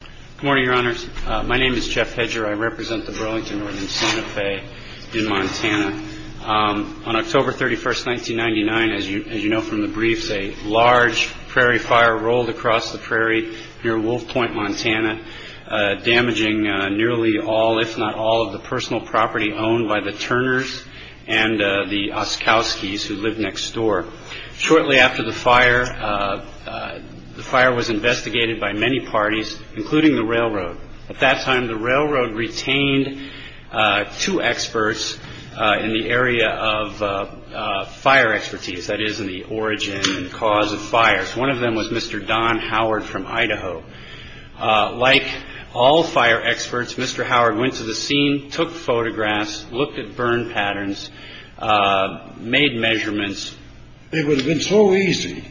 Good morning, Your Honors. My name is Jeff Hedger. I represent the Burlington Northern Santa Fe in Montana. On October 31st, 1999, as you know from the briefs, a large prairie fire rolled across the prairie near Wolf Point, Montana, damaging nearly all, if not all, of the personal property owned by the Turners and the Oskowskis who lived next door. Shortly after the fire, the fire was investigated by many parties, including the railroad. At that time, the railroad retained two experts in the area of fire expertise, that is, in the origin and cause of fires. One of them was Mr. Don Howard from Idaho. Like all fire experts, Mr. Howard went to the scene, took photographs, looked at burn patterns, made measurements. It would have been so easy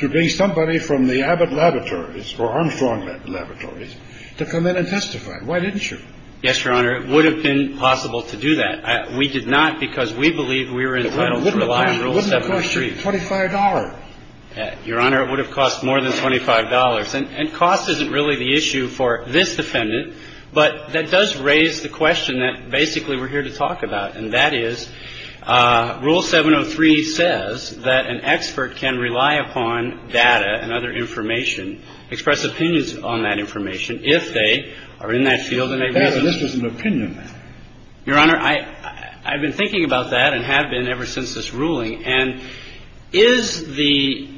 to bring somebody from the Abbott Laboratories or Armstrong Laboratories to come in and testify. Why didn't you? Yes, Your Honor, it would have been possible to do that. We did not because we believe we were entitled to rely on Rule 7 of 3. Wouldn't it cost you $25? Your Honor, it would have cost more than $25. And cost isn't really the issue for this defendant, but that does raise the question that basically we're here to talk about, and that is, Rule 7 of 3 says that an expert can rely upon data and other information, express opinions on that information, if they are in that field and they believe in it. This was an opinion matter. Your Honor, I've been thinking about that and have been ever since this ruling. And is the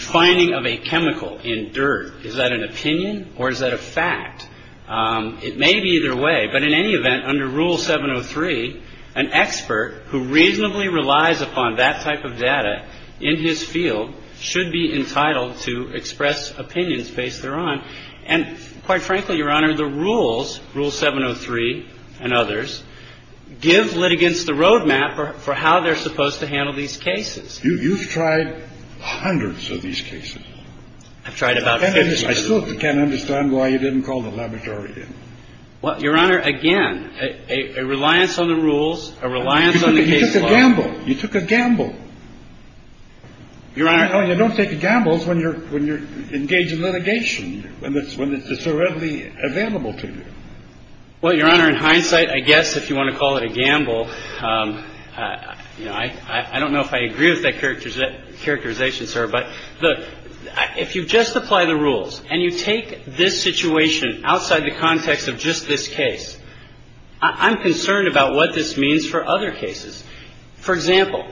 finding of a chemical in dirt, is that an opinion or is that a fact? It may be either way. But in any event, under Rule 7 of 3, an expert who reasonably relies upon that type of data in his field should be entitled to express opinions based thereon. And quite frankly, Your Honor, the rules, Rule 7 of 3 and others, give litigants the roadmap for how they're supposed to handle these cases. You've tried hundreds of these cases. I've tried about 50 of them. And I still can't understand why you didn't call the laboratory then. Well, Your Honor, again, a reliance on the rules, a reliance on the case law. You took a gamble. You took a gamble. Your Honor, you don't take gambles when you're engaged in litigation, when it's so readily available to you. Well, Your Honor, in hindsight, I guess if you want to call it a gamble, I don't know if I agree with that characterization, sir, but if you just apply the rules and you take this situation outside the context of just this case, I'm concerned about what this means for other cases. For example,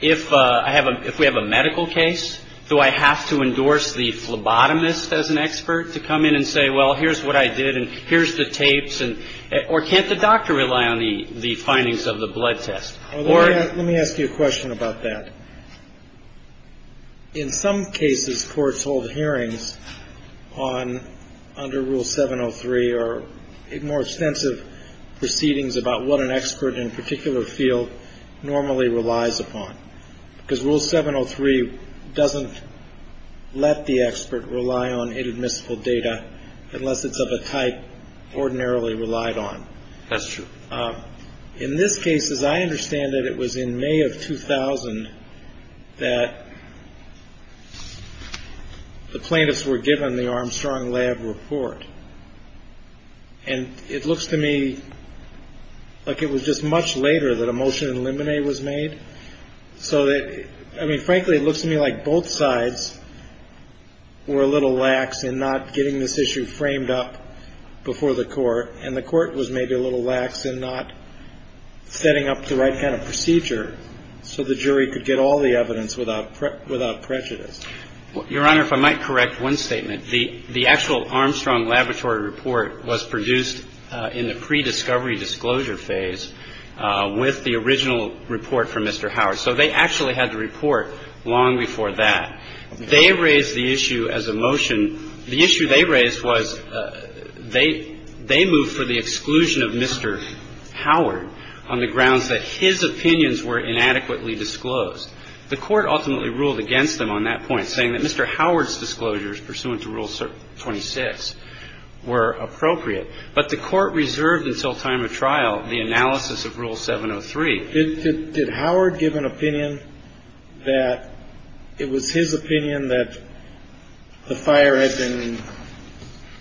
if we have a medical case, do I have to endorse the phlebotomist as an expert to come in and say, well, here's what I did and here's the tapes, or can't the doctor rely on the findings of the blood test? Well, let me ask you a question about that. In some cases, courts hold hearings under Rule 703 or more extensive proceedings about what an expert in a particular field normally relies upon, because Rule 703 doesn't let the expert rely on inadmissible data unless it's of a type ordinarily relied on. That's true. In this case, as I understand it, it was in May of 2000 that the plaintiffs were given the Armstrong Lab report. And it looks to me like it was just much later that a motion to eliminate was made. So, I mean, frankly, it looks to me like both sides were a little lax in not getting this issue framed up before the court, and the court was maybe a little lax in not setting up the right kind of procedure so the jury could get all the evidence without prejudice. Your Honor, if I might correct one statement, the actual Armstrong Laboratory report was produced in the pre-discovery disclosure phase with the original report from Mr. Howard. So they actually had the report long before that. They raised the issue as a motion. The issue they raised was they moved for the exclusion of Mr. Howard on the grounds that his opinions were inadequately disclosed. The court ultimately ruled against them on that point, saying that Mr. Howard's disclosures pursuant to Rule 26 were appropriate. But the court reserved until time of trial the analysis of Rule 703. Did Howard give an opinion that it was his opinion that the fire had been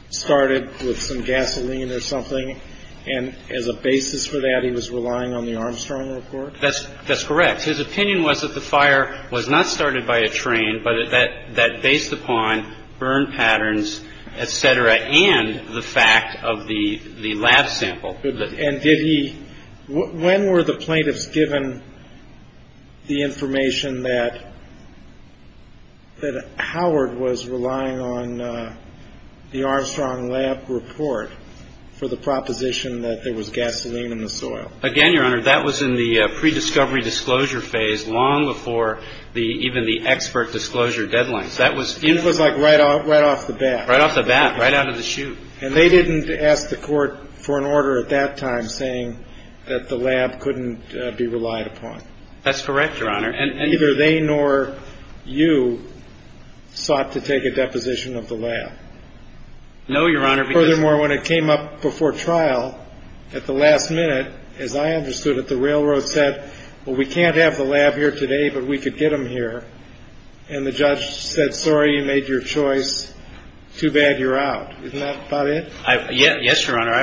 started with some gasoline or something, and as a basis for that he was relying on the Armstrong report? That's correct. His opinion was that the fire was not started by a train, but that based upon burn patterns, et cetera, and the fact of the lab sample. And when were the plaintiffs given the information that Howard was relying on the Armstrong lab report for the proposition that there was gasoline in the soil? Again, Your Honor, that was in the pre-discovery disclosure phase long before even the expert disclosure deadlines. It was like right off the bat. Right off the bat, right out of the chute. And they didn't ask the court for an order at that time saying that the lab couldn't be relied upon? That's correct, Your Honor. And neither they nor you sought to take a deposition of the lab? No, Your Honor. Furthermore, when it came up before trial at the last minute, as I understood it, the railroad said, well, we can't have the lab here today, but we could get them here. And the judge said, sorry, you made your choice. Too bad you're out. Isn't that about it? Yes, Your Honor.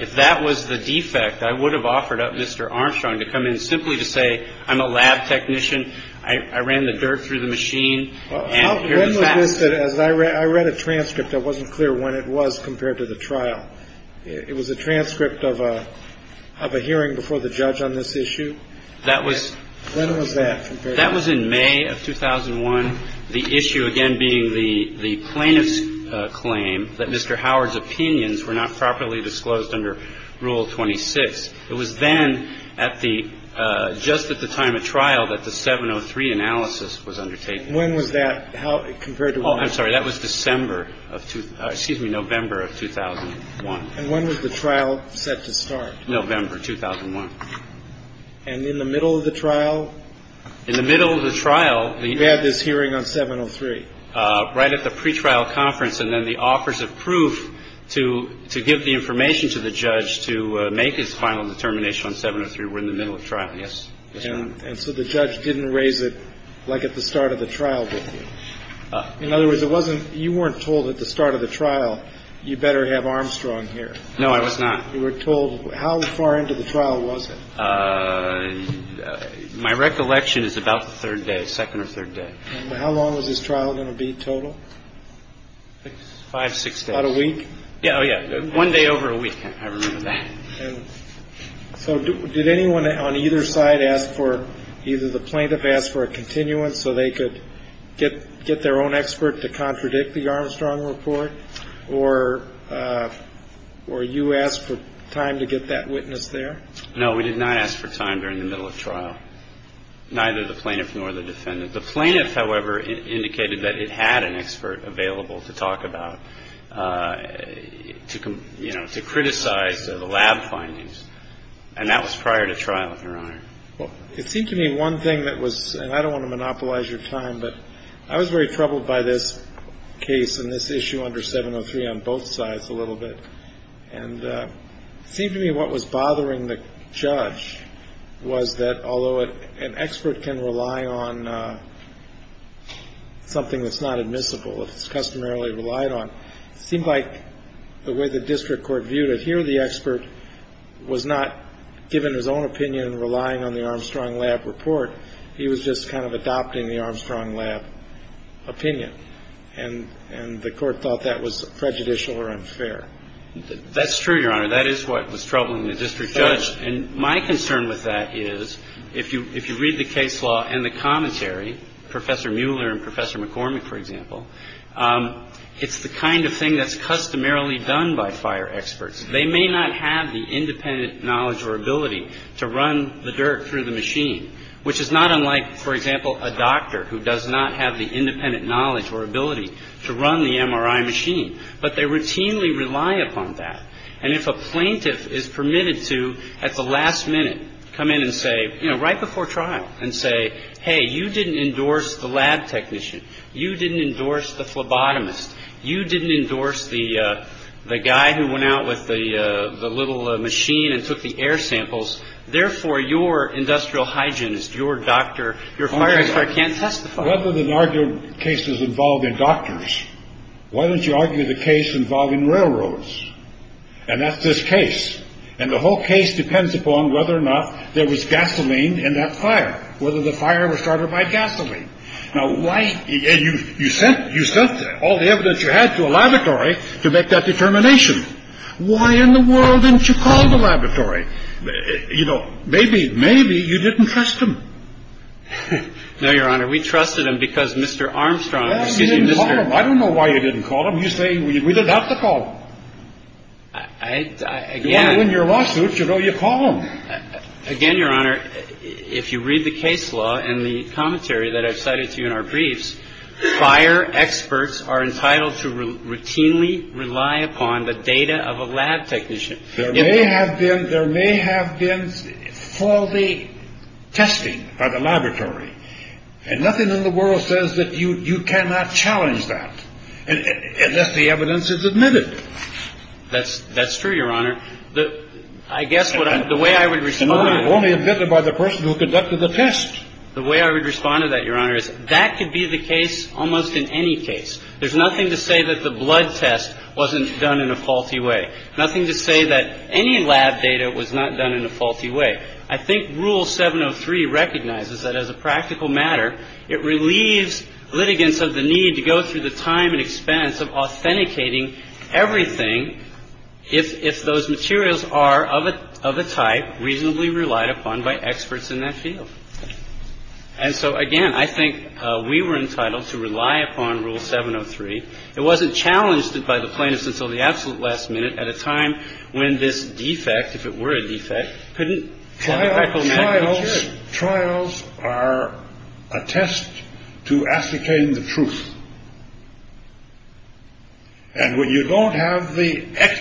If that was the defect, I would have offered up Mr. Armstrong to come in simply to say, I'm a lab technician. I ran the dirt through the machine. When was this? I read a transcript. I wasn't clear when it was compared to the trial. It was a transcript of a hearing before the judge on this issue? That was in May of 2001. The issue, again, being the plaintiff's claim that Mr. Howard's opinions were not properly disclosed under Rule 26. It was then at the – just at the time of trial that the 703 analysis was undertaken. When was that? Compared to when? I'm sorry. That was December of – excuse me, November of 2001. And when was the trial set to start? November 2001. And in the middle of the trial? In the middle of the trial, the – The hearing on 703? Right at the pretrial conference. And then the offers of proof to give the information to the judge to make his final determination on 703 were in the middle of trial, yes. And so the judge didn't raise it like at the start of the trial did he? In other words, it wasn't – you weren't told at the start of the trial, you better have Armstrong here. No, I was not. You were told – how far into the trial was it? My recollection is about the third day, second or third day. How long was this trial going to be total? Five, six days. About a week? Oh, yeah. One day over a week, I remember that. So did anyone on either side ask for – either the plaintiff asked for a continuance so they could get their own expert to contradict the Armstrong report, or you asked for time to get that witness there? No, we did not ask for time during the middle of trial, neither the plaintiff nor the defendant. The plaintiff, however, indicated that it had an expert available to talk about, to criticize the lab findings, and that was prior to trial, Your Honor. Well, it seemed to me one thing that was – and I don't want to monopolize your time, but I was very troubled by this case and this issue under 703 on both sides a little bit. And it seemed to me what was bothering the judge was that, although an expert can rely on something that's not admissible, it's customarily relied on, it seemed like the way the district court viewed it, here the expert was not given his own opinion and relying on the Armstrong lab report. He was just kind of adopting the Armstrong lab opinion, and the court thought that was prejudicial or unfair. That's true, Your Honor. That is what was troubling the district judge. And my concern with that is, if you read the case law and the commentary, Professor Mueller and Professor McCormick, for example, it's the kind of thing that's customarily done by fire experts. They may not have the independent knowledge or ability to run the dirt through the machine, which is not unlike, for example, a doctor who does not have the independent knowledge or ability to run the MRI machine, but they routinely rely upon that. And if a plaintiff is permitted to at the last minute come in and say, you know, right before trial and say, hey, you didn't endorse the lab technician. You didn't endorse the phlebotomist. You didn't endorse the guy who went out with the little machine and took the air samples. Therefore, your industrial hygienist, your doctor, your fire expert can't testify. Why don't you argue the case involved in doctors? Why don't you argue the case involved in railroads? And that's this case. And the whole case depends upon whether or not there was gasoline in that fire, whether the fire was started by gasoline. Now, you sent all the evidence you had to a laboratory to make that determination. Why in the world didn't you call the laboratory? You know, maybe, maybe you didn't trust him. No, Your Honor. We trusted him because Mr. Armstrong. I don't know why you didn't call him. You say we didn't have to call him. Again, in your lawsuit, you know, you call him again, Your Honor. If you read the case law and the commentary that I've cited to you in our briefs, fire experts are entitled to routinely rely upon the data of a lab technician. There may have been there may have been faulty testing by the laboratory. And nothing in the world says that you cannot challenge that unless the evidence is admitted. That's that's true, Your Honor. I guess the way I would respond only admitted by the person who conducted the test. The way I would respond to that, Your Honor, is that could be the case almost in any case. There's nothing to say that the blood test wasn't done in a faulty way. Nothing to say that any lab data was not done in a faulty way. I think Rule 703 recognizes that as a practical matter, it relieves litigants of the need to go through the time and expense of authenticating everything if those materials are of a type reasonably relied upon by experts in that field. And so, again, I think we were entitled to rely upon Rule 703. It wasn't challenged by the plaintiffs until the absolute last minute at a time when this defect, if it were a defect, couldn't. Trials are a test to ascertain the truth. And when you don't have the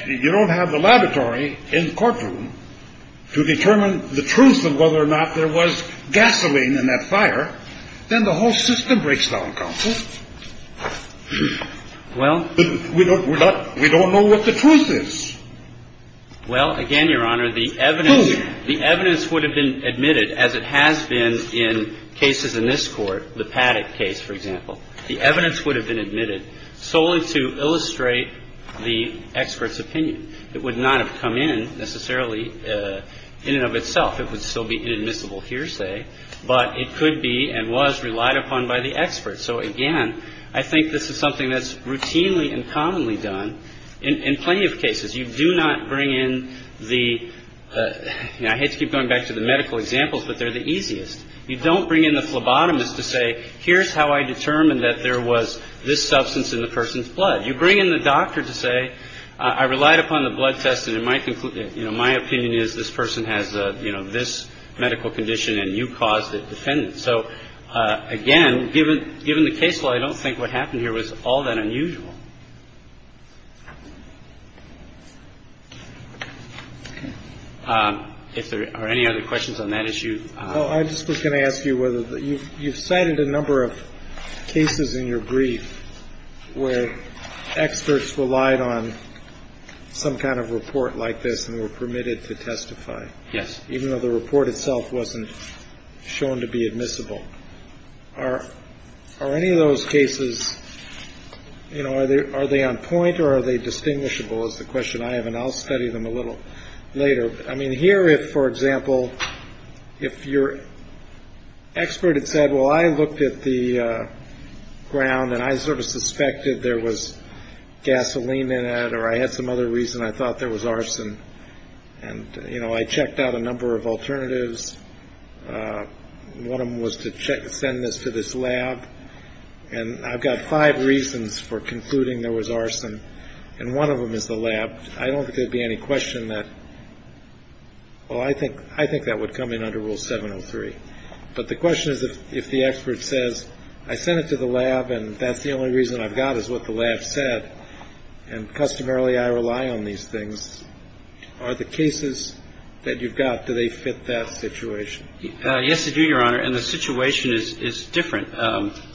you don't have the laboratory in the courtroom to determine the truth of whether or not there was gasoline in that fire, then the whole system breaks down, counsel. We don't know what the truth is. Well, again, Your Honor, the evidence would have been admitted as it has been in cases in this Court, the Paddock case, for example. The evidence would have been admitted solely to illustrate the expert's opinion. It would not have come in necessarily in and of itself. It would still be inadmissible hearsay. But it could be and was relied upon by the expert. So, again, I think this is something that's routinely and commonly done in plenty of cases. You do not bring in the I hate to keep going back to the medical examples, but they're the easiest. You don't bring in the phlebotomist to say, here's how I determined that there was this substance in the person's blood. You bring in the doctor to say, I relied upon the blood test, and it might conclude that, you know, my opinion is this person has, you know, this medical condition and you caused it, defendant. So, again, given given the case law, I don't think what happened here was all that unusual. If there are any other questions on that issue. I just was going to ask you whether you've cited a number of cases in your brief where experts relied on some kind of report like this and were permitted to testify. Yes. Even though the report itself wasn't shown to be admissible. Are any of those cases, you know, are they on point or are they distinguishable is the question I have. And I'll study them a little later. I mean, here, if, for example, if your expert had said, well, I looked at the ground and I sort of suspected there was gasoline in it or I had some other reason I thought there was arson. And, you know, I checked out a number of alternatives. One of them was to send this to this lab. And I've got five reasons for concluding there was arson. And one of them is the lab. I don't think there'd be any question that. Well, I think I think that would come in under Rule 703. But the question is, if the expert says I sent it to the lab and that's the only reason I've got is what the lab said. And customarily, I rely on these things. Are the cases that you've got, do they fit that situation? Yes, they do, Your Honor. And the situation is different.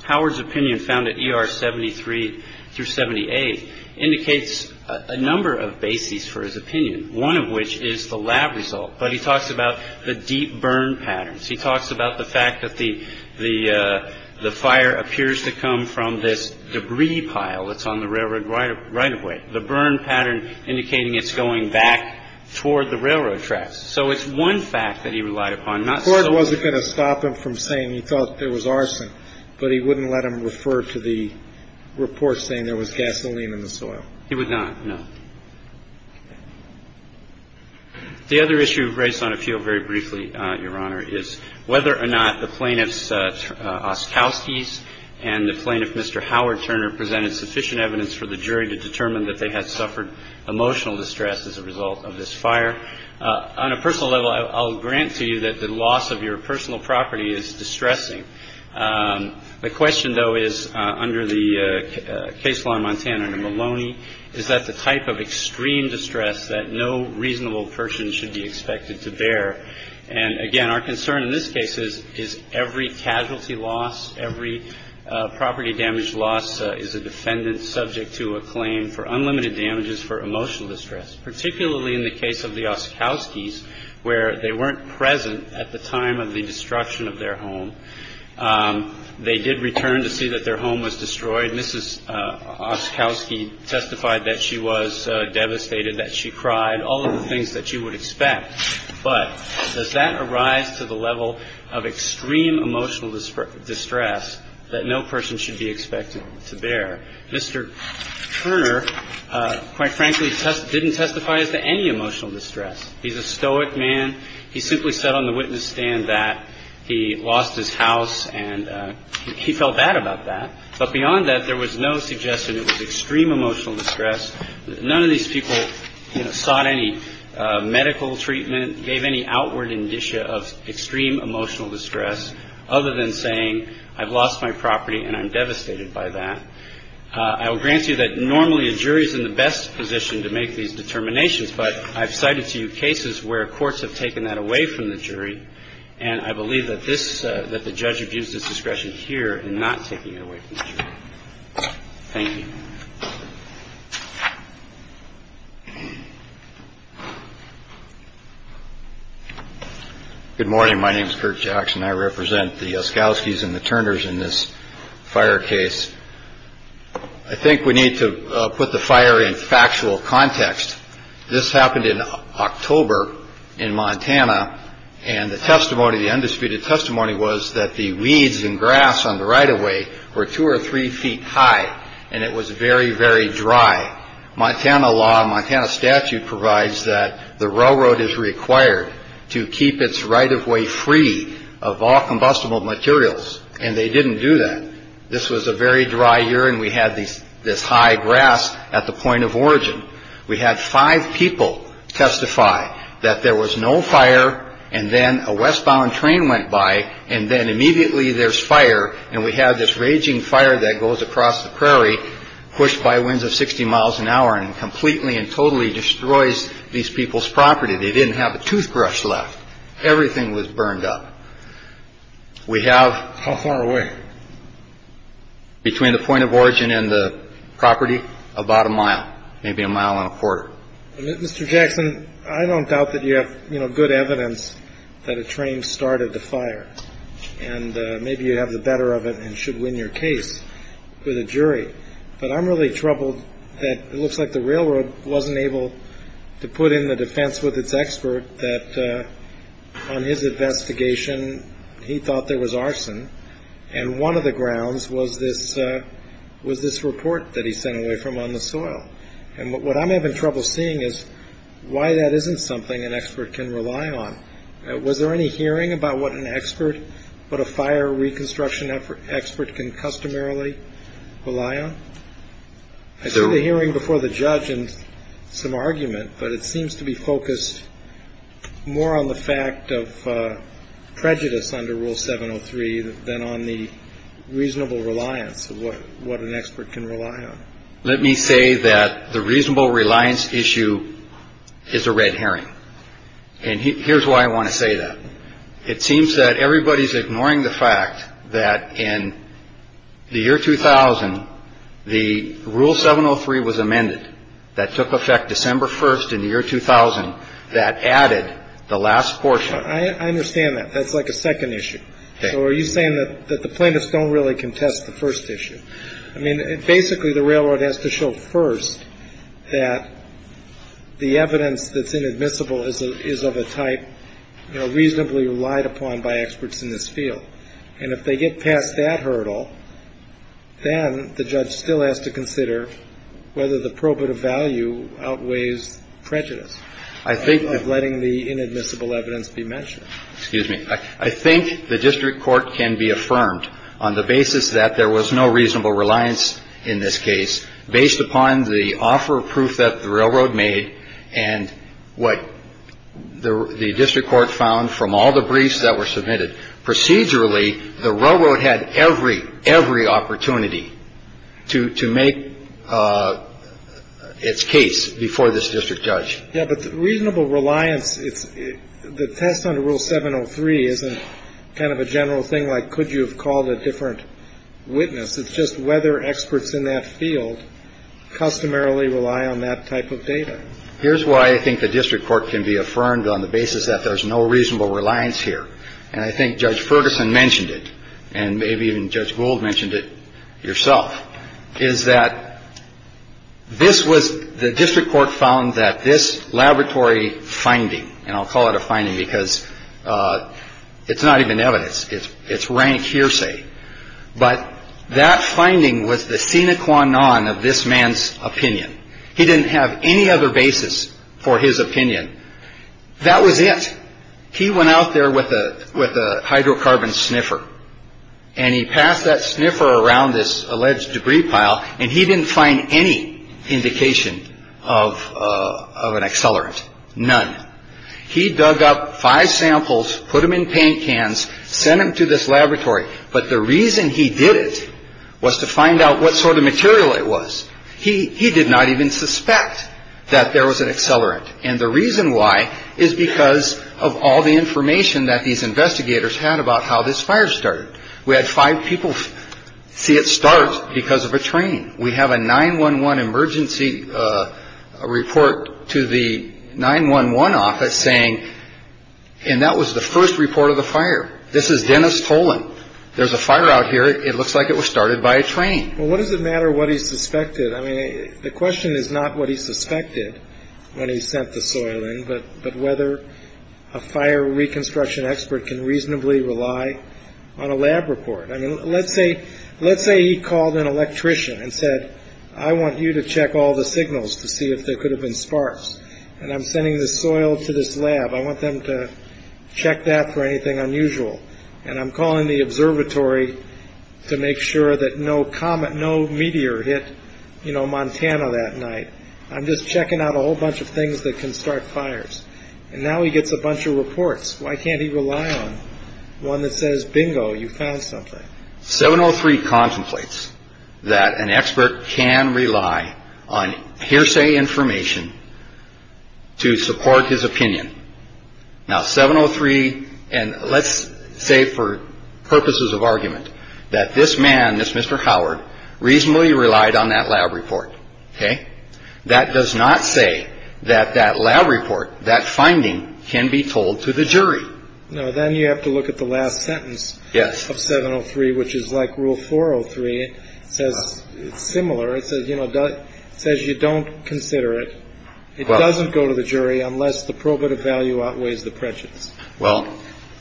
Howard's opinion found at ER 73 through 78 indicates a number of bases for his opinion, one of which is the lab result. But he talks about the deep burn patterns. He talks about the fact that the the the fire appears to come from this debris pile that's on the railroad right away. The burn pattern indicating it's going back toward the railroad tracks. So it's one fact that he relied upon. I'm not sure it wasn't going to stop him from saying he thought there was arson, but he wouldn't let him refer to the report saying there was gasoline in the soil. He would not. No. The other issue raised on a few very briefly, Your Honor, is whether or not the plaintiff's Oskowski's and the plaintiff, Mr. Howard Turner, presented sufficient evidence for the jury to determine that they had suffered emotional distress as a result of this fire. On a personal level, I'll grant to you that the loss of your personal property is distressing. The question, though, is under the case law in Montana, under Maloney, is that the type of extreme distress that no reasonable person should be expected to bear. And again, our concern in this case is is every casualty loss, every property damage loss is a defendant subject to a claim for unlimited damages for emotional distress, particularly in the case of the Oskowski's where they weren't present at the time of the destruction of their home. They did return to see that their home was destroyed. Mrs. Oskowski testified that she was devastated, that she cried, all of the things that you would expect. But does that arise to the level of extreme emotional distress that no person should be expected to bear? Mr. Turner, quite frankly, didn't testify as to any emotional distress. He's a stoic man. He simply said on the witness stand that he lost his house and he felt bad about that. But beyond that, there was no suggestion it was extreme emotional distress. None of these people sought any medical treatment, gave any outward indicia of extreme emotional distress other than saying I've lost my property and I'm devastated by that. I will grant you that normally a jury is in the best position to make these determinations, but I've cited to you cases where courts have taken that away from the jury. And I believe that this that the judge abused his discretion here in not taking it away from the jury. Thank you. Good morning. My name is Curt Jackson. I represent the Oskowskis and the Turners in this fire case. I think we need to put the fire in factual context. This happened in October in Montana. And the testimony, the undisputed testimony was that the weeds and grass on the right of way were two or three feet high. And it was very, very dry. Montana law, Montana statute provides that the railroad is required to keep its right of way free of all combustible materials. And they didn't do that. This was a very dry year and we had this high grass at the point of origin. We had five people testify that there was no fire. And then a westbound train went by and then immediately there's fire. And we had this raging fire that goes across the prairie, pushed by winds of 60 miles an hour and completely and totally destroys these people's property. They didn't have a toothbrush left. Everything was burned up. We have. How far away? Between the point of origin and the property, about a mile, maybe a mile and a quarter. Mr. Jackson, I don't doubt that you have good evidence that a train started the fire. And maybe you have the better of it and should win your case with a jury. But I'm really troubled that it looks like the railroad wasn't able to put in the defense with its expert that on his investigation, he thought there was arson. And one of the grounds was this was this report that he sent away from on the soil. And what I'm having trouble seeing is why that isn't something an expert can rely on. Was there any hearing about what an expert, what a fire reconstruction expert can customarily rely on? I saw the hearing before the judge and some argument, but it seems to be focused more on the fact of prejudice under Rule 703 than on the reasonable reliance of what an expert can rely on. Let me say that the reasonable reliance issue is a red herring. And here's why I want to say that. It seems that everybody's ignoring the fact that in the year 2000, the Rule 703 was amended. That took effect December 1st in the year 2000. That added the last portion. I understand that. That's like a second issue. So are you saying that the plaintiffs don't really contest the first issue? I mean, basically, the Railroad has to show first that the evidence that's inadmissible is of a type, you know, reasonably relied upon by experts in this field. And if they get past that hurdle, then the judge still has to consider whether the probative value outweighs prejudice of letting the inadmissible evidence be mentioned. Excuse me. I think the district court can be affirmed on the basis that there was no reasonable reliance in this case based upon the offer of proof that the Railroad made and what the district court found from all the briefs that were submitted. Procedurally, the Railroad had every, every opportunity to make its case before this district judge. Yeah, but reasonable reliance, the test under Rule 703 isn't kind of a general thing like could you have called a different witness. It's just whether experts in that field customarily rely on that type of data. Here's why I think the district court can be affirmed on the basis that there's no reasonable reliance here. And I think Judge Ferguson mentioned it and maybe even Judge Gould mentioned it yourself, is that this was the district court found that this laboratory finding. And I'll call it a finding because it's not even evidence. It's it's rank hearsay. But that finding was the sine qua non of this man's opinion. He didn't have any other basis for his opinion. That was it. He went out there with a with a hydrocarbon sniffer and he passed that sniffer around this alleged debris pile and he didn't find any indication of of an accelerant. None. He dug up five samples, put them in paint cans, sent them to this laboratory. But the reason he did it was to find out what sort of material it was. He he did not even suspect that there was an accelerant. And the reason why is because of all the information that these investigators had about how this fire started. We had five people see it start because of a train. We have a 9 1 1 emergency report to the 9 1 1 office saying. And that was the first report of the fire. This is Dennis Tolan. There's a fire out here. It looks like it was started by a train. Well, what does it matter what he suspected? I mean, the question is not what he suspected when he sent the soil in. But but whether a fire reconstruction expert can reasonably rely on a lab report. I mean, let's say let's say he called an electrician and said, I want you to check all the signals to see if there could have been sparks. And I'm sending the soil to this lab. I want them to check that for anything unusual. And I'm calling the observatory to make sure that no comet, no meteor hit Montana that night. I'm just checking out a whole bunch of things that can start fires. And now he gets a bunch of reports. Why can't he rely on one that says, bingo, you found something. 703 contemplates that an expert can rely on hearsay information to support his opinion. Now, 703. And let's say for purposes of argument that this man, this Mr. Howard, reasonably relied on that lab report. OK. That does not say that that lab report, that finding can be told to the jury. No. Then you have to look at the last sentence. Yes. Of 703, which is like rule 403. It says it's similar. It says, you know, it says you don't consider it. It doesn't go to the jury unless the probative value outweighs the prejudice. Well,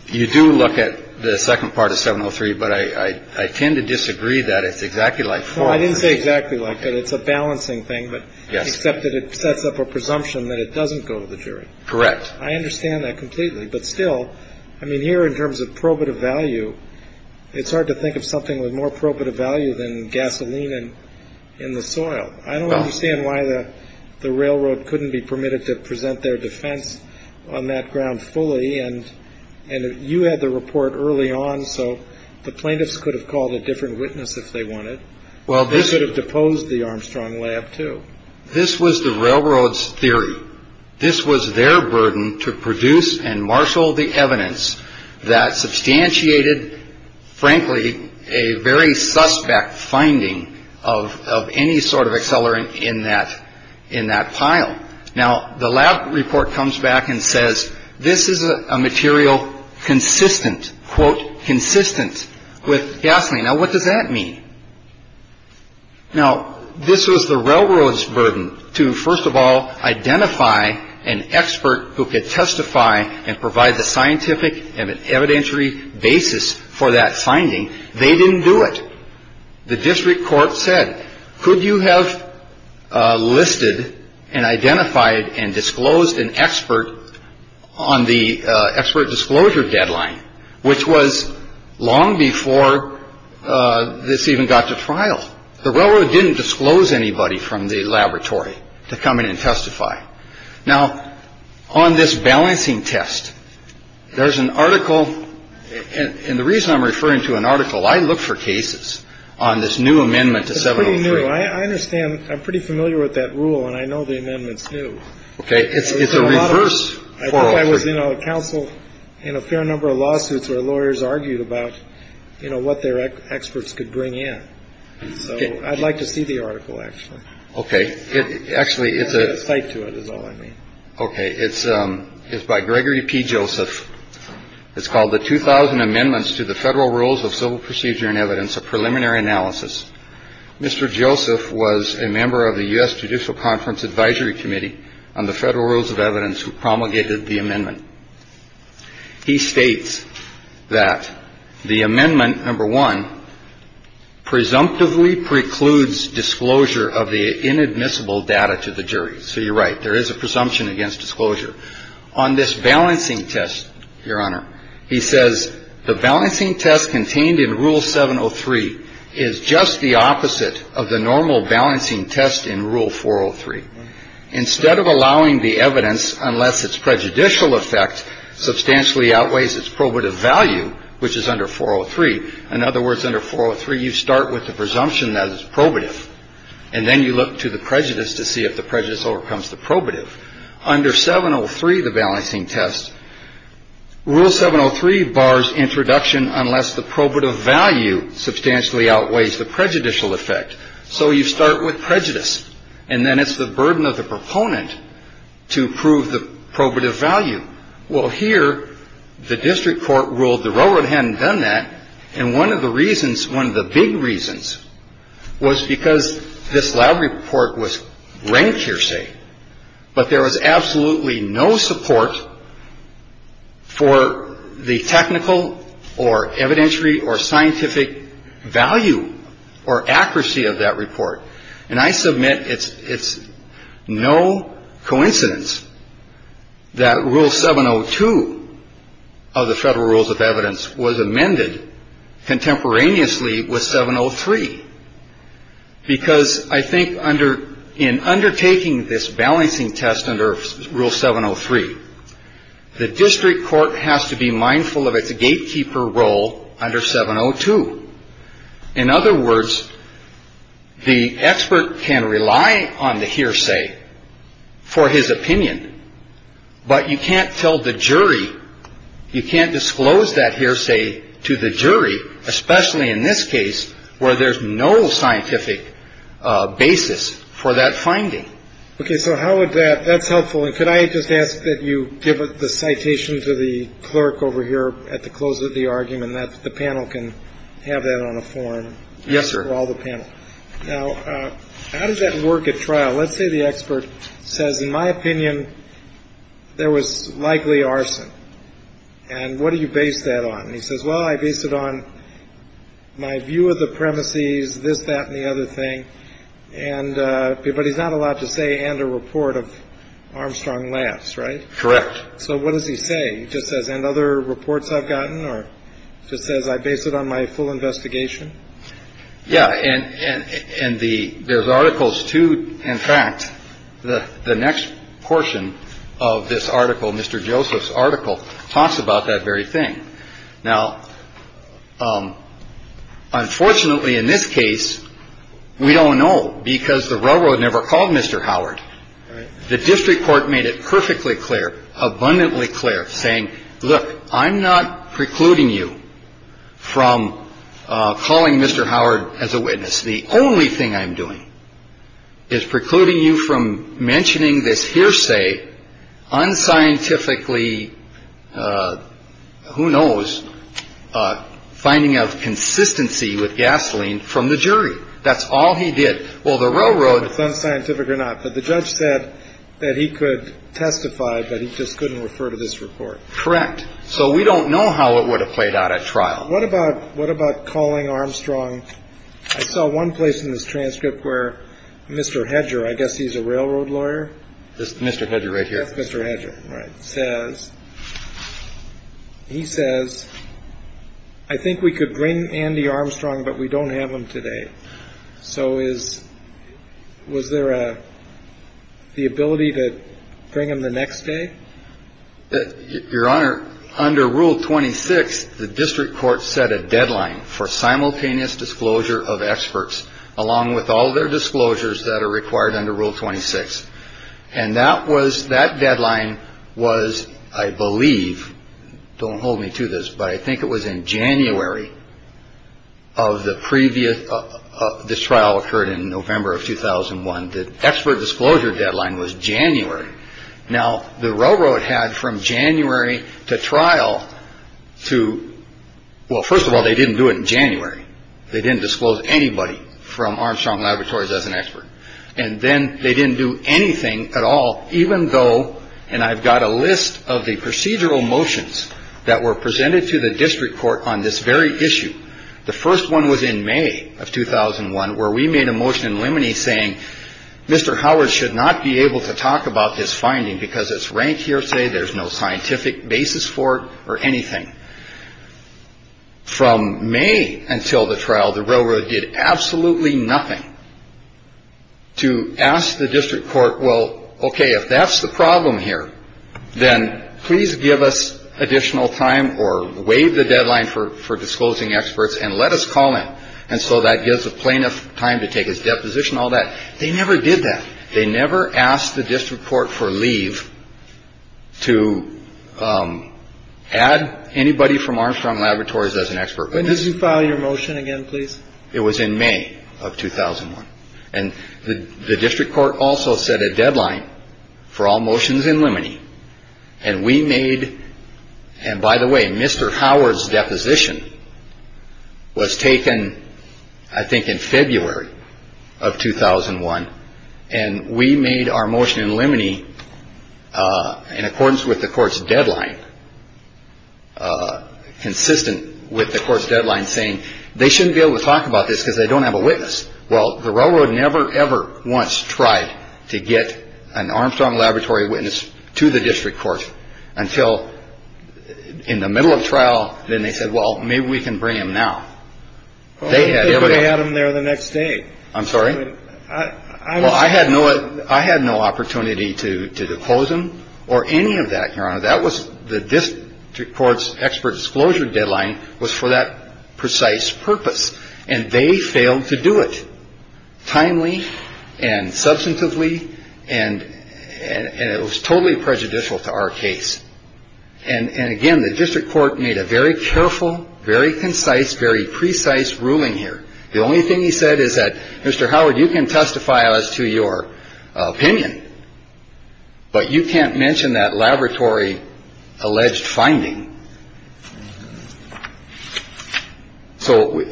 you do look at the second part of 703. But I tend to disagree that it's exactly like four. I didn't say exactly like that. It's a balancing thing. But yes, except that it sets up a presumption that it doesn't go to the jury. Correct. I understand that completely. But still, I mean, here in terms of probative value, it's hard to think of something with more probative value than gasoline and in the soil. I don't understand why the railroad couldn't be permitted to present their defense on that ground fully. And and you had the report early on. So the plaintiffs could have called a different witness if they wanted. Well, this would have deposed the Armstrong lab, too. This was the railroad's theory. This was their burden to produce and marshal the evidence that substantiated, frankly, a very suspect finding of of any sort of accelerant in that in that pile. Now, the lab report comes back and says this is a material consistent, quote, consistent with gasoline. Now, what does that mean? Now, this was the railroad's burden to, first of all, identify an expert who could testify and provide the scientific and evidentiary basis for that finding. They didn't do it. The district court said, could you have listed and identified and disclosed an expert on the expert disclosure deadline, which was long before this even got to trial? The railroad didn't disclose anybody from the laboratory to come in and testify. Now, on this balancing test, there's an article. And the reason I'm referring to an article, I look for cases on this new amendment to seven. I understand. I'm pretty familiar with that rule. And I know the amendments. OK. It's a reverse. I was in a council in a fair number of lawsuits where lawyers argued about, you know, what their experts could bring in. So I'd like to see the article, actually. OK. Actually, it's a fight to it is all I mean. OK. It's it's by Gregory P. Joseph. It's called the 2000 amendments to the federal rules of civil procedure and evidence of preliminary analysis. Mr. Joseph was a member of the U.S. Judicial Conference Advisory Committee on the federal rules of evidence who promulgated the amendment. He states that the amendment number one presumptively precludes disclosure of the inadmissible data to the jury. So you're right. There is a presumption against disclosure on this balancing test. Your Honor, he says the balancing test contained in Rule 703 is just the opposite of the normal balancing test in Rule 403. Instead of allowing the evidence, unless it's prejudicial effect substantially outweighs its probative value, which is under 403. In other words, under 403, you start with the presumption that it's probative and then you look to the prejudice to see if the prejudice overcomes the probative. Under 703, the balancing test Rule 703 bars introduction unless the probative value substantially outweighs the prejudicial effect. So you start with prejudice and then it's the burden of the proponent to prove the probative value. Well, here the district court ruled the railroad hadn't done that. And one of the reasons one of the big reasons was because this lab report was ranked, hearsay, but there was absolutely no support for the technical or evidentiary or scientific value or accuracy of that report. And I submit it's it's no coincidence that Rule 702 of the Federal Rules of Evidence was amended contemporaneously with 703. Because I think under in undertaking this balancing test under Rule 703, the district court has to be mindful of its gatekeeper role under 702. In other words, the expert can rely on the hearsay for his opinion, but you can't tell the jury you can't disclose that hearsay to the jury, especially in this case where there's no scientific basis for that finding. OK, so how would that that's helpful? And could I just ask that you give the citation to the clerk over here at the close of the argument that the panel can have that on a form? Yes, sir. All the panel. Now, how does that work at trial? Let's say the expert says, in my opinion, there was likely arson. And what do you base that on? He says, well, I base it on my view of the premises, this, that and the other thing. And but he's not allowed to say and a report of Armstrong laughs. Right. Correct. So what does he say? He just says and other reports I've gotten or just says I base it on my full investigation. Yeah. And in the there's articles, too. In fact, the next portion of this article, Mr. Joseph's article talks about that very thing. Now, unfortunately, in this case, we don't know because the railroad never called Mr. Howard. The district court made it perfectly clear, abundantly clear, saying, look, I'm not precluding you from calling Mr. Howard as a witness. The only thing I'm doing is precluding you from mentioning this hearsay unscientifically. Who knows? Finding out consistency with gasoline from the jury. That's all he did. Well, the railroad. It's unscientific or not. But the judge said that he could testify, but he just couldn't refer to this report. Correct. So we don't know how it would have played out at trial. What about what about calling Armstrong? I saw one place in this transcript where Mr. Hedger, I guess he's a railroad lawyer. Mr. Hedger right here. Mr. Hedger says he says, I think we could bring Andy Armstrong, but we don't have him today. So is was there the ability to bring him the next day? Your Honor, under Rule 26, the district court set a deadline for simultaneous disclosure of experts, along with all their disclosures that are required under Rule 26. And that was that deadline was, I believe. Don't hold me to this, but I think it was in January of the previous. This trial occurred in November of 2001. The expert disclosure deadline was January. Now, the railroad had from January to trial to. Well, first of all, they didn't do it in January. They didn't disclose anybody from Armstrong Laboratories as an expert. And then they didn't do anything at all, even though. And I've got a list of the procedural motions that were presented to the district court on this very issue. The first one was in May of 2001, where we made a motion in limine saying Mr. Howard should not be able to talk about this finding because it's ranked hearsay. There's no scientific basis for or anything. From May until the trial, the railroad did absolutely nothing to ask the district court. Well, OK, if that's the problem here, then please give us additional time or waive the deadline for for disclosing experts and let us call in. And so that gives a plaintiff time to take his deposition, all that. They never did that. They never asked the district court for leave. To add anybody from Armstrong Laboratories as an expert. When did you file your motion again, please? It was in May of 2001. And the district court also set a deadline for all motions in limine. And we made. And by the way, Mr. Howard's deposition was taken, I think, in February of 2001. And we made our motion in limine in accordance with the court's deadline. Consistent with the court's deadline saying they shouldn't be able to talk about this because they don't have a witness. Well, the railroad never, ever once tried to get an Armstrong Laboratory witness to the district court until in the middle of trial. Then they said, well, maybe we can bring him now. They had everybody out of there the next day. I'm sorry. I had no I had no opportunity to to depose him or any of that. Your Honor, that was the district court's expert disclosure deadline was for that precise purpose. And they failed to do it timely and substantively. And it was totally prejudicial to our case. And again, the district court made a very careful, very concise, very precise ruling here. The only thing he said is that, Mr. Howard, you can testify as to your opinion, but you can't mention that laboratory alleged finding. So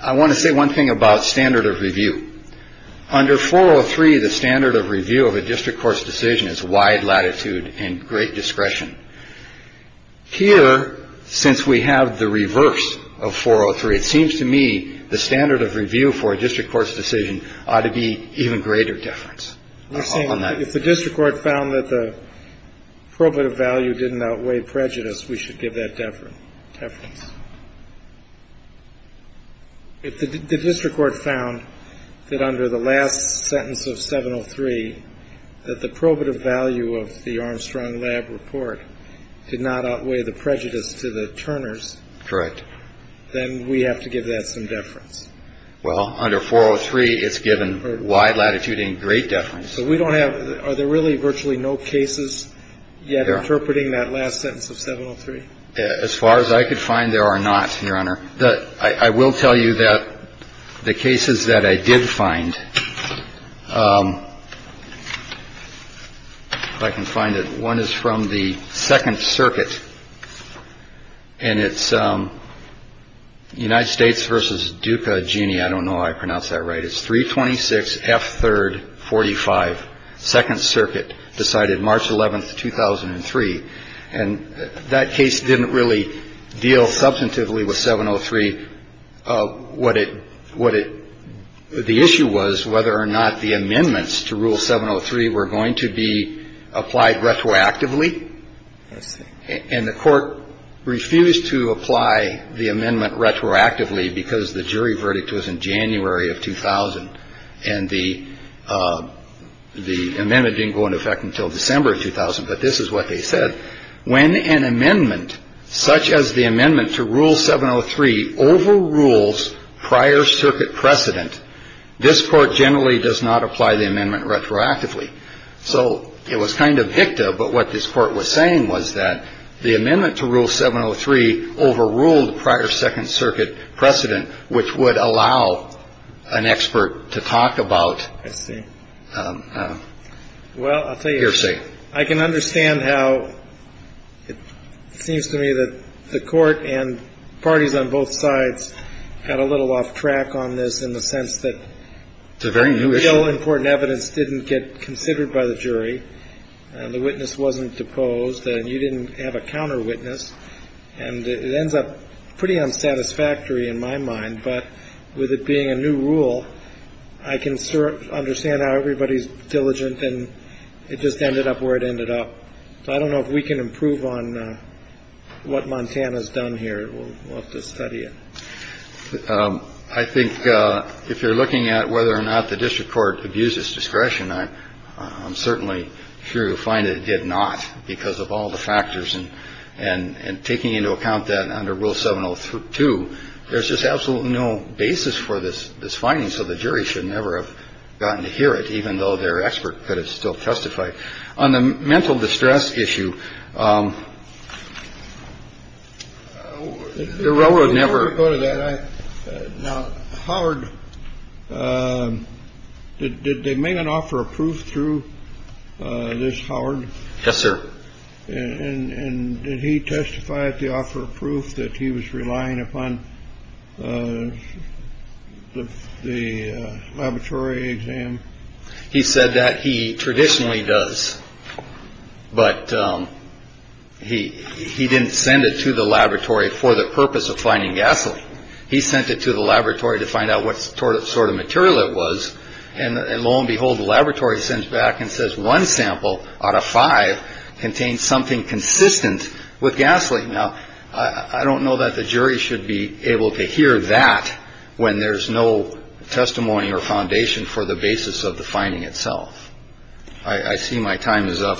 I want to say one thing about standard of review. Under 403, the standard of review of a district court's decision is wide latitude and great discretion. Here, since we have the reverse of 403, it seems to me the standard of review for a district court's decision ought to be even greater deference. If the district court found that the probative value didn't outweigh prejudice, we should give that deference. If the district court found that under the last sentence of 703, that the probative value of the Armstrong Lab report did not outweigh the prejudice to the Turners, then we have to give that some deference. Well, under 403, it's given wide latitude and great deference. So we don't have, are there really virtually no cases yet interpreting that last sentence of 703? As far as I could find, there are not, Your Honor. I will tell you that the cases that I did find, if I can find it, one is from the Second Circuit and it's United States versus Duka. Jeannie, I don't know. I pronounce that right. It's three twenty six. F third. Forty five. Second Circuit decided March 11th, 2003. And that case didn't really deal substantively with 703. What it what the issue was, whether or not the amendments to rule 703 were going to be applied retroactively. And the court refused to apply the amendment retroactively because the jury verdict was in January of 2000. And the the amendment didn't go into effect until December 2000. But this is what they said. When an amendment such as the amendment to rule 703 overrules prior circuit precedent. This court generally does not apply the amendment retroactively. So it was kind of Victor. But what this court was saying was that the amendment to rule 703 overruled prior Second Circuit precedent, which would allow an expert to talk about. I see. Well, I think you're saying I can understand how it seems to me that the court and parties on both sides had a little off track on this in the sense that. It's a very important evidence didn't get considered by the jury and the witness wasn't deposed and you didn't have a counter witness. And it ends up pretty unsatisfactory in my mind. But with it being a new rule, I can understand how everybody's diligent and it just ended up where it ended up. I don't know if we can improve on what Montana's done here. We'll have to study it. I think if you're looking at whether or not the district court abuses discretion, I'm certainly sure you'll find it did not because of all the factors and and taking into account that under rule 702, there's just absolutely no basis for this. This finding. So the jury should never have gotten to hear it, even though their expert could have still testified on the mental distress issue. The railroad never go to that. Howard, did they make an offer of proof through this, Howard? Yes, sir. And he testified to offer proof that he was relying upon the laboratory exam. He said that he traditionally does. But he he didn't send it to the laboratory for the purpose of finding gasoline. He sent it to the laboratory to find out what sort of sort of material it was. And lo and behold, the laboratory sends back and says one sample out of five contains something consistent with gasoline. Now, I don't know that the jury should be able to hear that when there's no testimony or foundation for the basis of the finding itself. I see my time is up.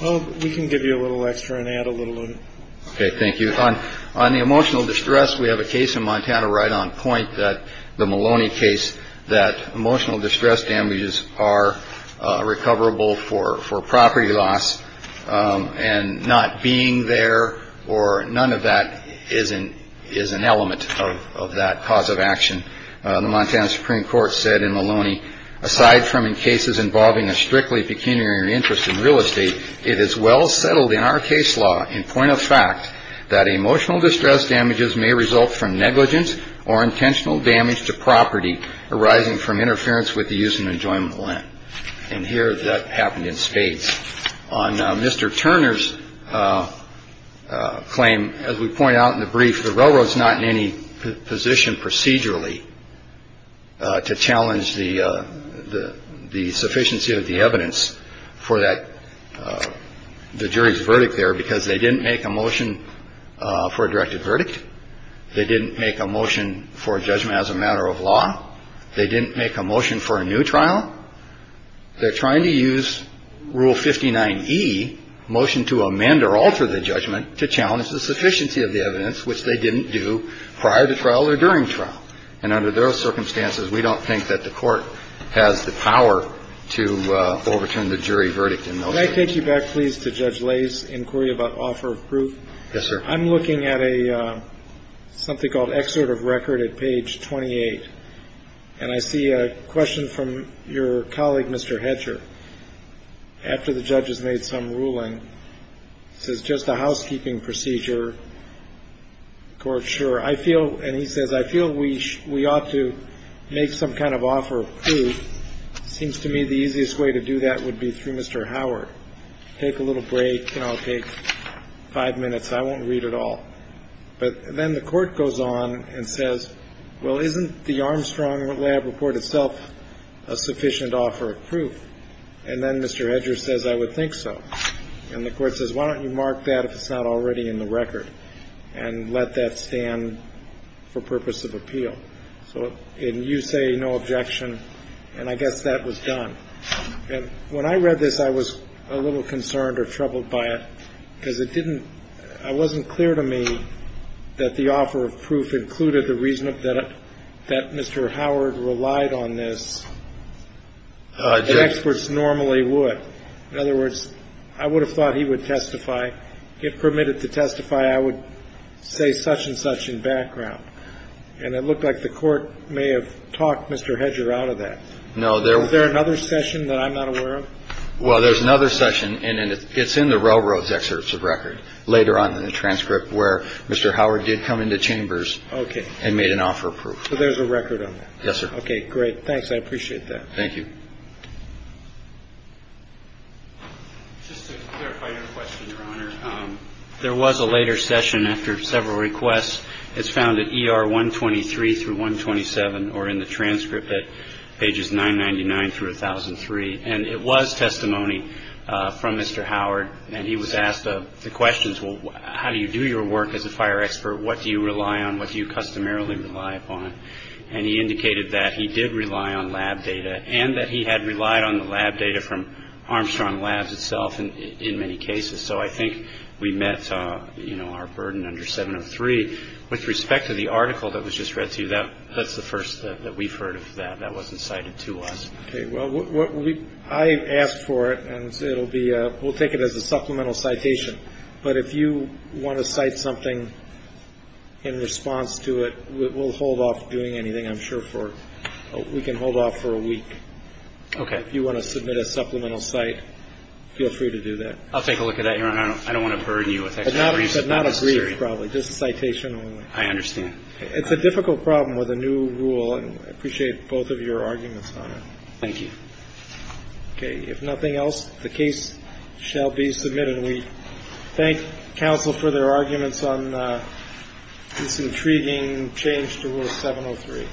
We can give you a little extra and add a little. OK, thank you. On the emotional distress, we have a case in Montana right on point that the Maloney case, that emotional distress damages are recoverable for for property loss and not being there or none of that isn't is an element of that cause of action. The Montana Supreme Court said in Maloney, aside from in cases involving a strictly pecuniary interest in real estate, it is well settled in our case law in point of fact that emotional distress damages may result from negligence or intentional damage to property arising from interference with the use and enjoyment of land. And here that happened in states on Mr. Turner's claim, as we point out in the brief, the railroad's not in any position procedurally to challenge the the the sufficiency of the evidence for that. The jury's verdict there because they didn't make a motion for a directed verdict. They didn't make a motion for judgment as a matter of law. They didn't make a motion for a new trial. They're trying to use Rule fifty nine e motion to amend or alter the judgment to challenge the sufficiency of the evidence which they didn't do prior to trial or during trial. And under those circumstances, we don't think that the court has the power to overturn the jury verdict. And I take you back, please, to Judge Lay's inquiry about offer of proof. Yes, sir. I'm looking at a something called excerpt of record at page twenty eight. And I see a question from your colleague, Mr. Hatcher, after the judges made some ruling, says just a housekeeping procedure court. Sure, I feel. And he says, I feel we we ought to make some kind of offer of proof. Seems to me the easiest way to do that would be through Mr. Howard. Take a little break. I'll take five minutes. I won't read it all. But then the court goes on and says, well, isn't the Armstrong lab report itself a sufficient offer of proof? And then Mr. Hatcher says, I would think so. And the court says, why don't you mark that if it's not already in the record and let that stand for purpose of appeal? So you say no objection. And I guess that was done. And when I read this, I was a little concerned or troubled by it because it didn't I wasn't clear to me that the offer of proof included the reason that that Mr. Howard relied on this. Experts normally would. In other words, I would have thought he would testify, get permitted to testify. I would say such and such in background. And it looked like the court may have talked Mr. Hatcher out of that. No, there was there another session that I'm not aware of. Well, there's another session. And it's in the railroad's excerpts of record later on in the transcript where Mr. Howard did come into chambers and made an offer of proof. So there's a record. Yes, sir. OK, great. Thanks. I appreciate that. Thank you. Just to clarify your question, Your Honor, there was a later session after several requests. It's found that ER one twenty three through one twenty seven or in the transcript at pages nine ninety nine through a thousand three. And it was testimony from Mr. Howard. And he was asked the questions, well, how do you do your work as a fire expert? What do you rely on? What do you customarily rely upon? And he indicated that he did rely on lab data and that he had relied on the lab data from Armstrong Labs itself in many cases. So I think we met our burden under seven of three with respect to the article that was just read to you. That that's the first that we've heard of that. That wasn't cited to us. Well, I asked for it and it'll be we'll take it as a supplemental citation. But if you want to cite something in response to it, we'll hold off doing anything. I'm sure for we can hold off for a week. OK. If you want to submit a supplemental site, feel free to do that. I'll take a look at that. I don't want to burden you with that, but not a brief probably just a citation. I understand. It's a difficult problem with a new rule and appreciate both of your arguments on it. Thank you. OK. If nothing else, the case shall be submitted. We thank counsel for their arguments on this intriguing change to 703.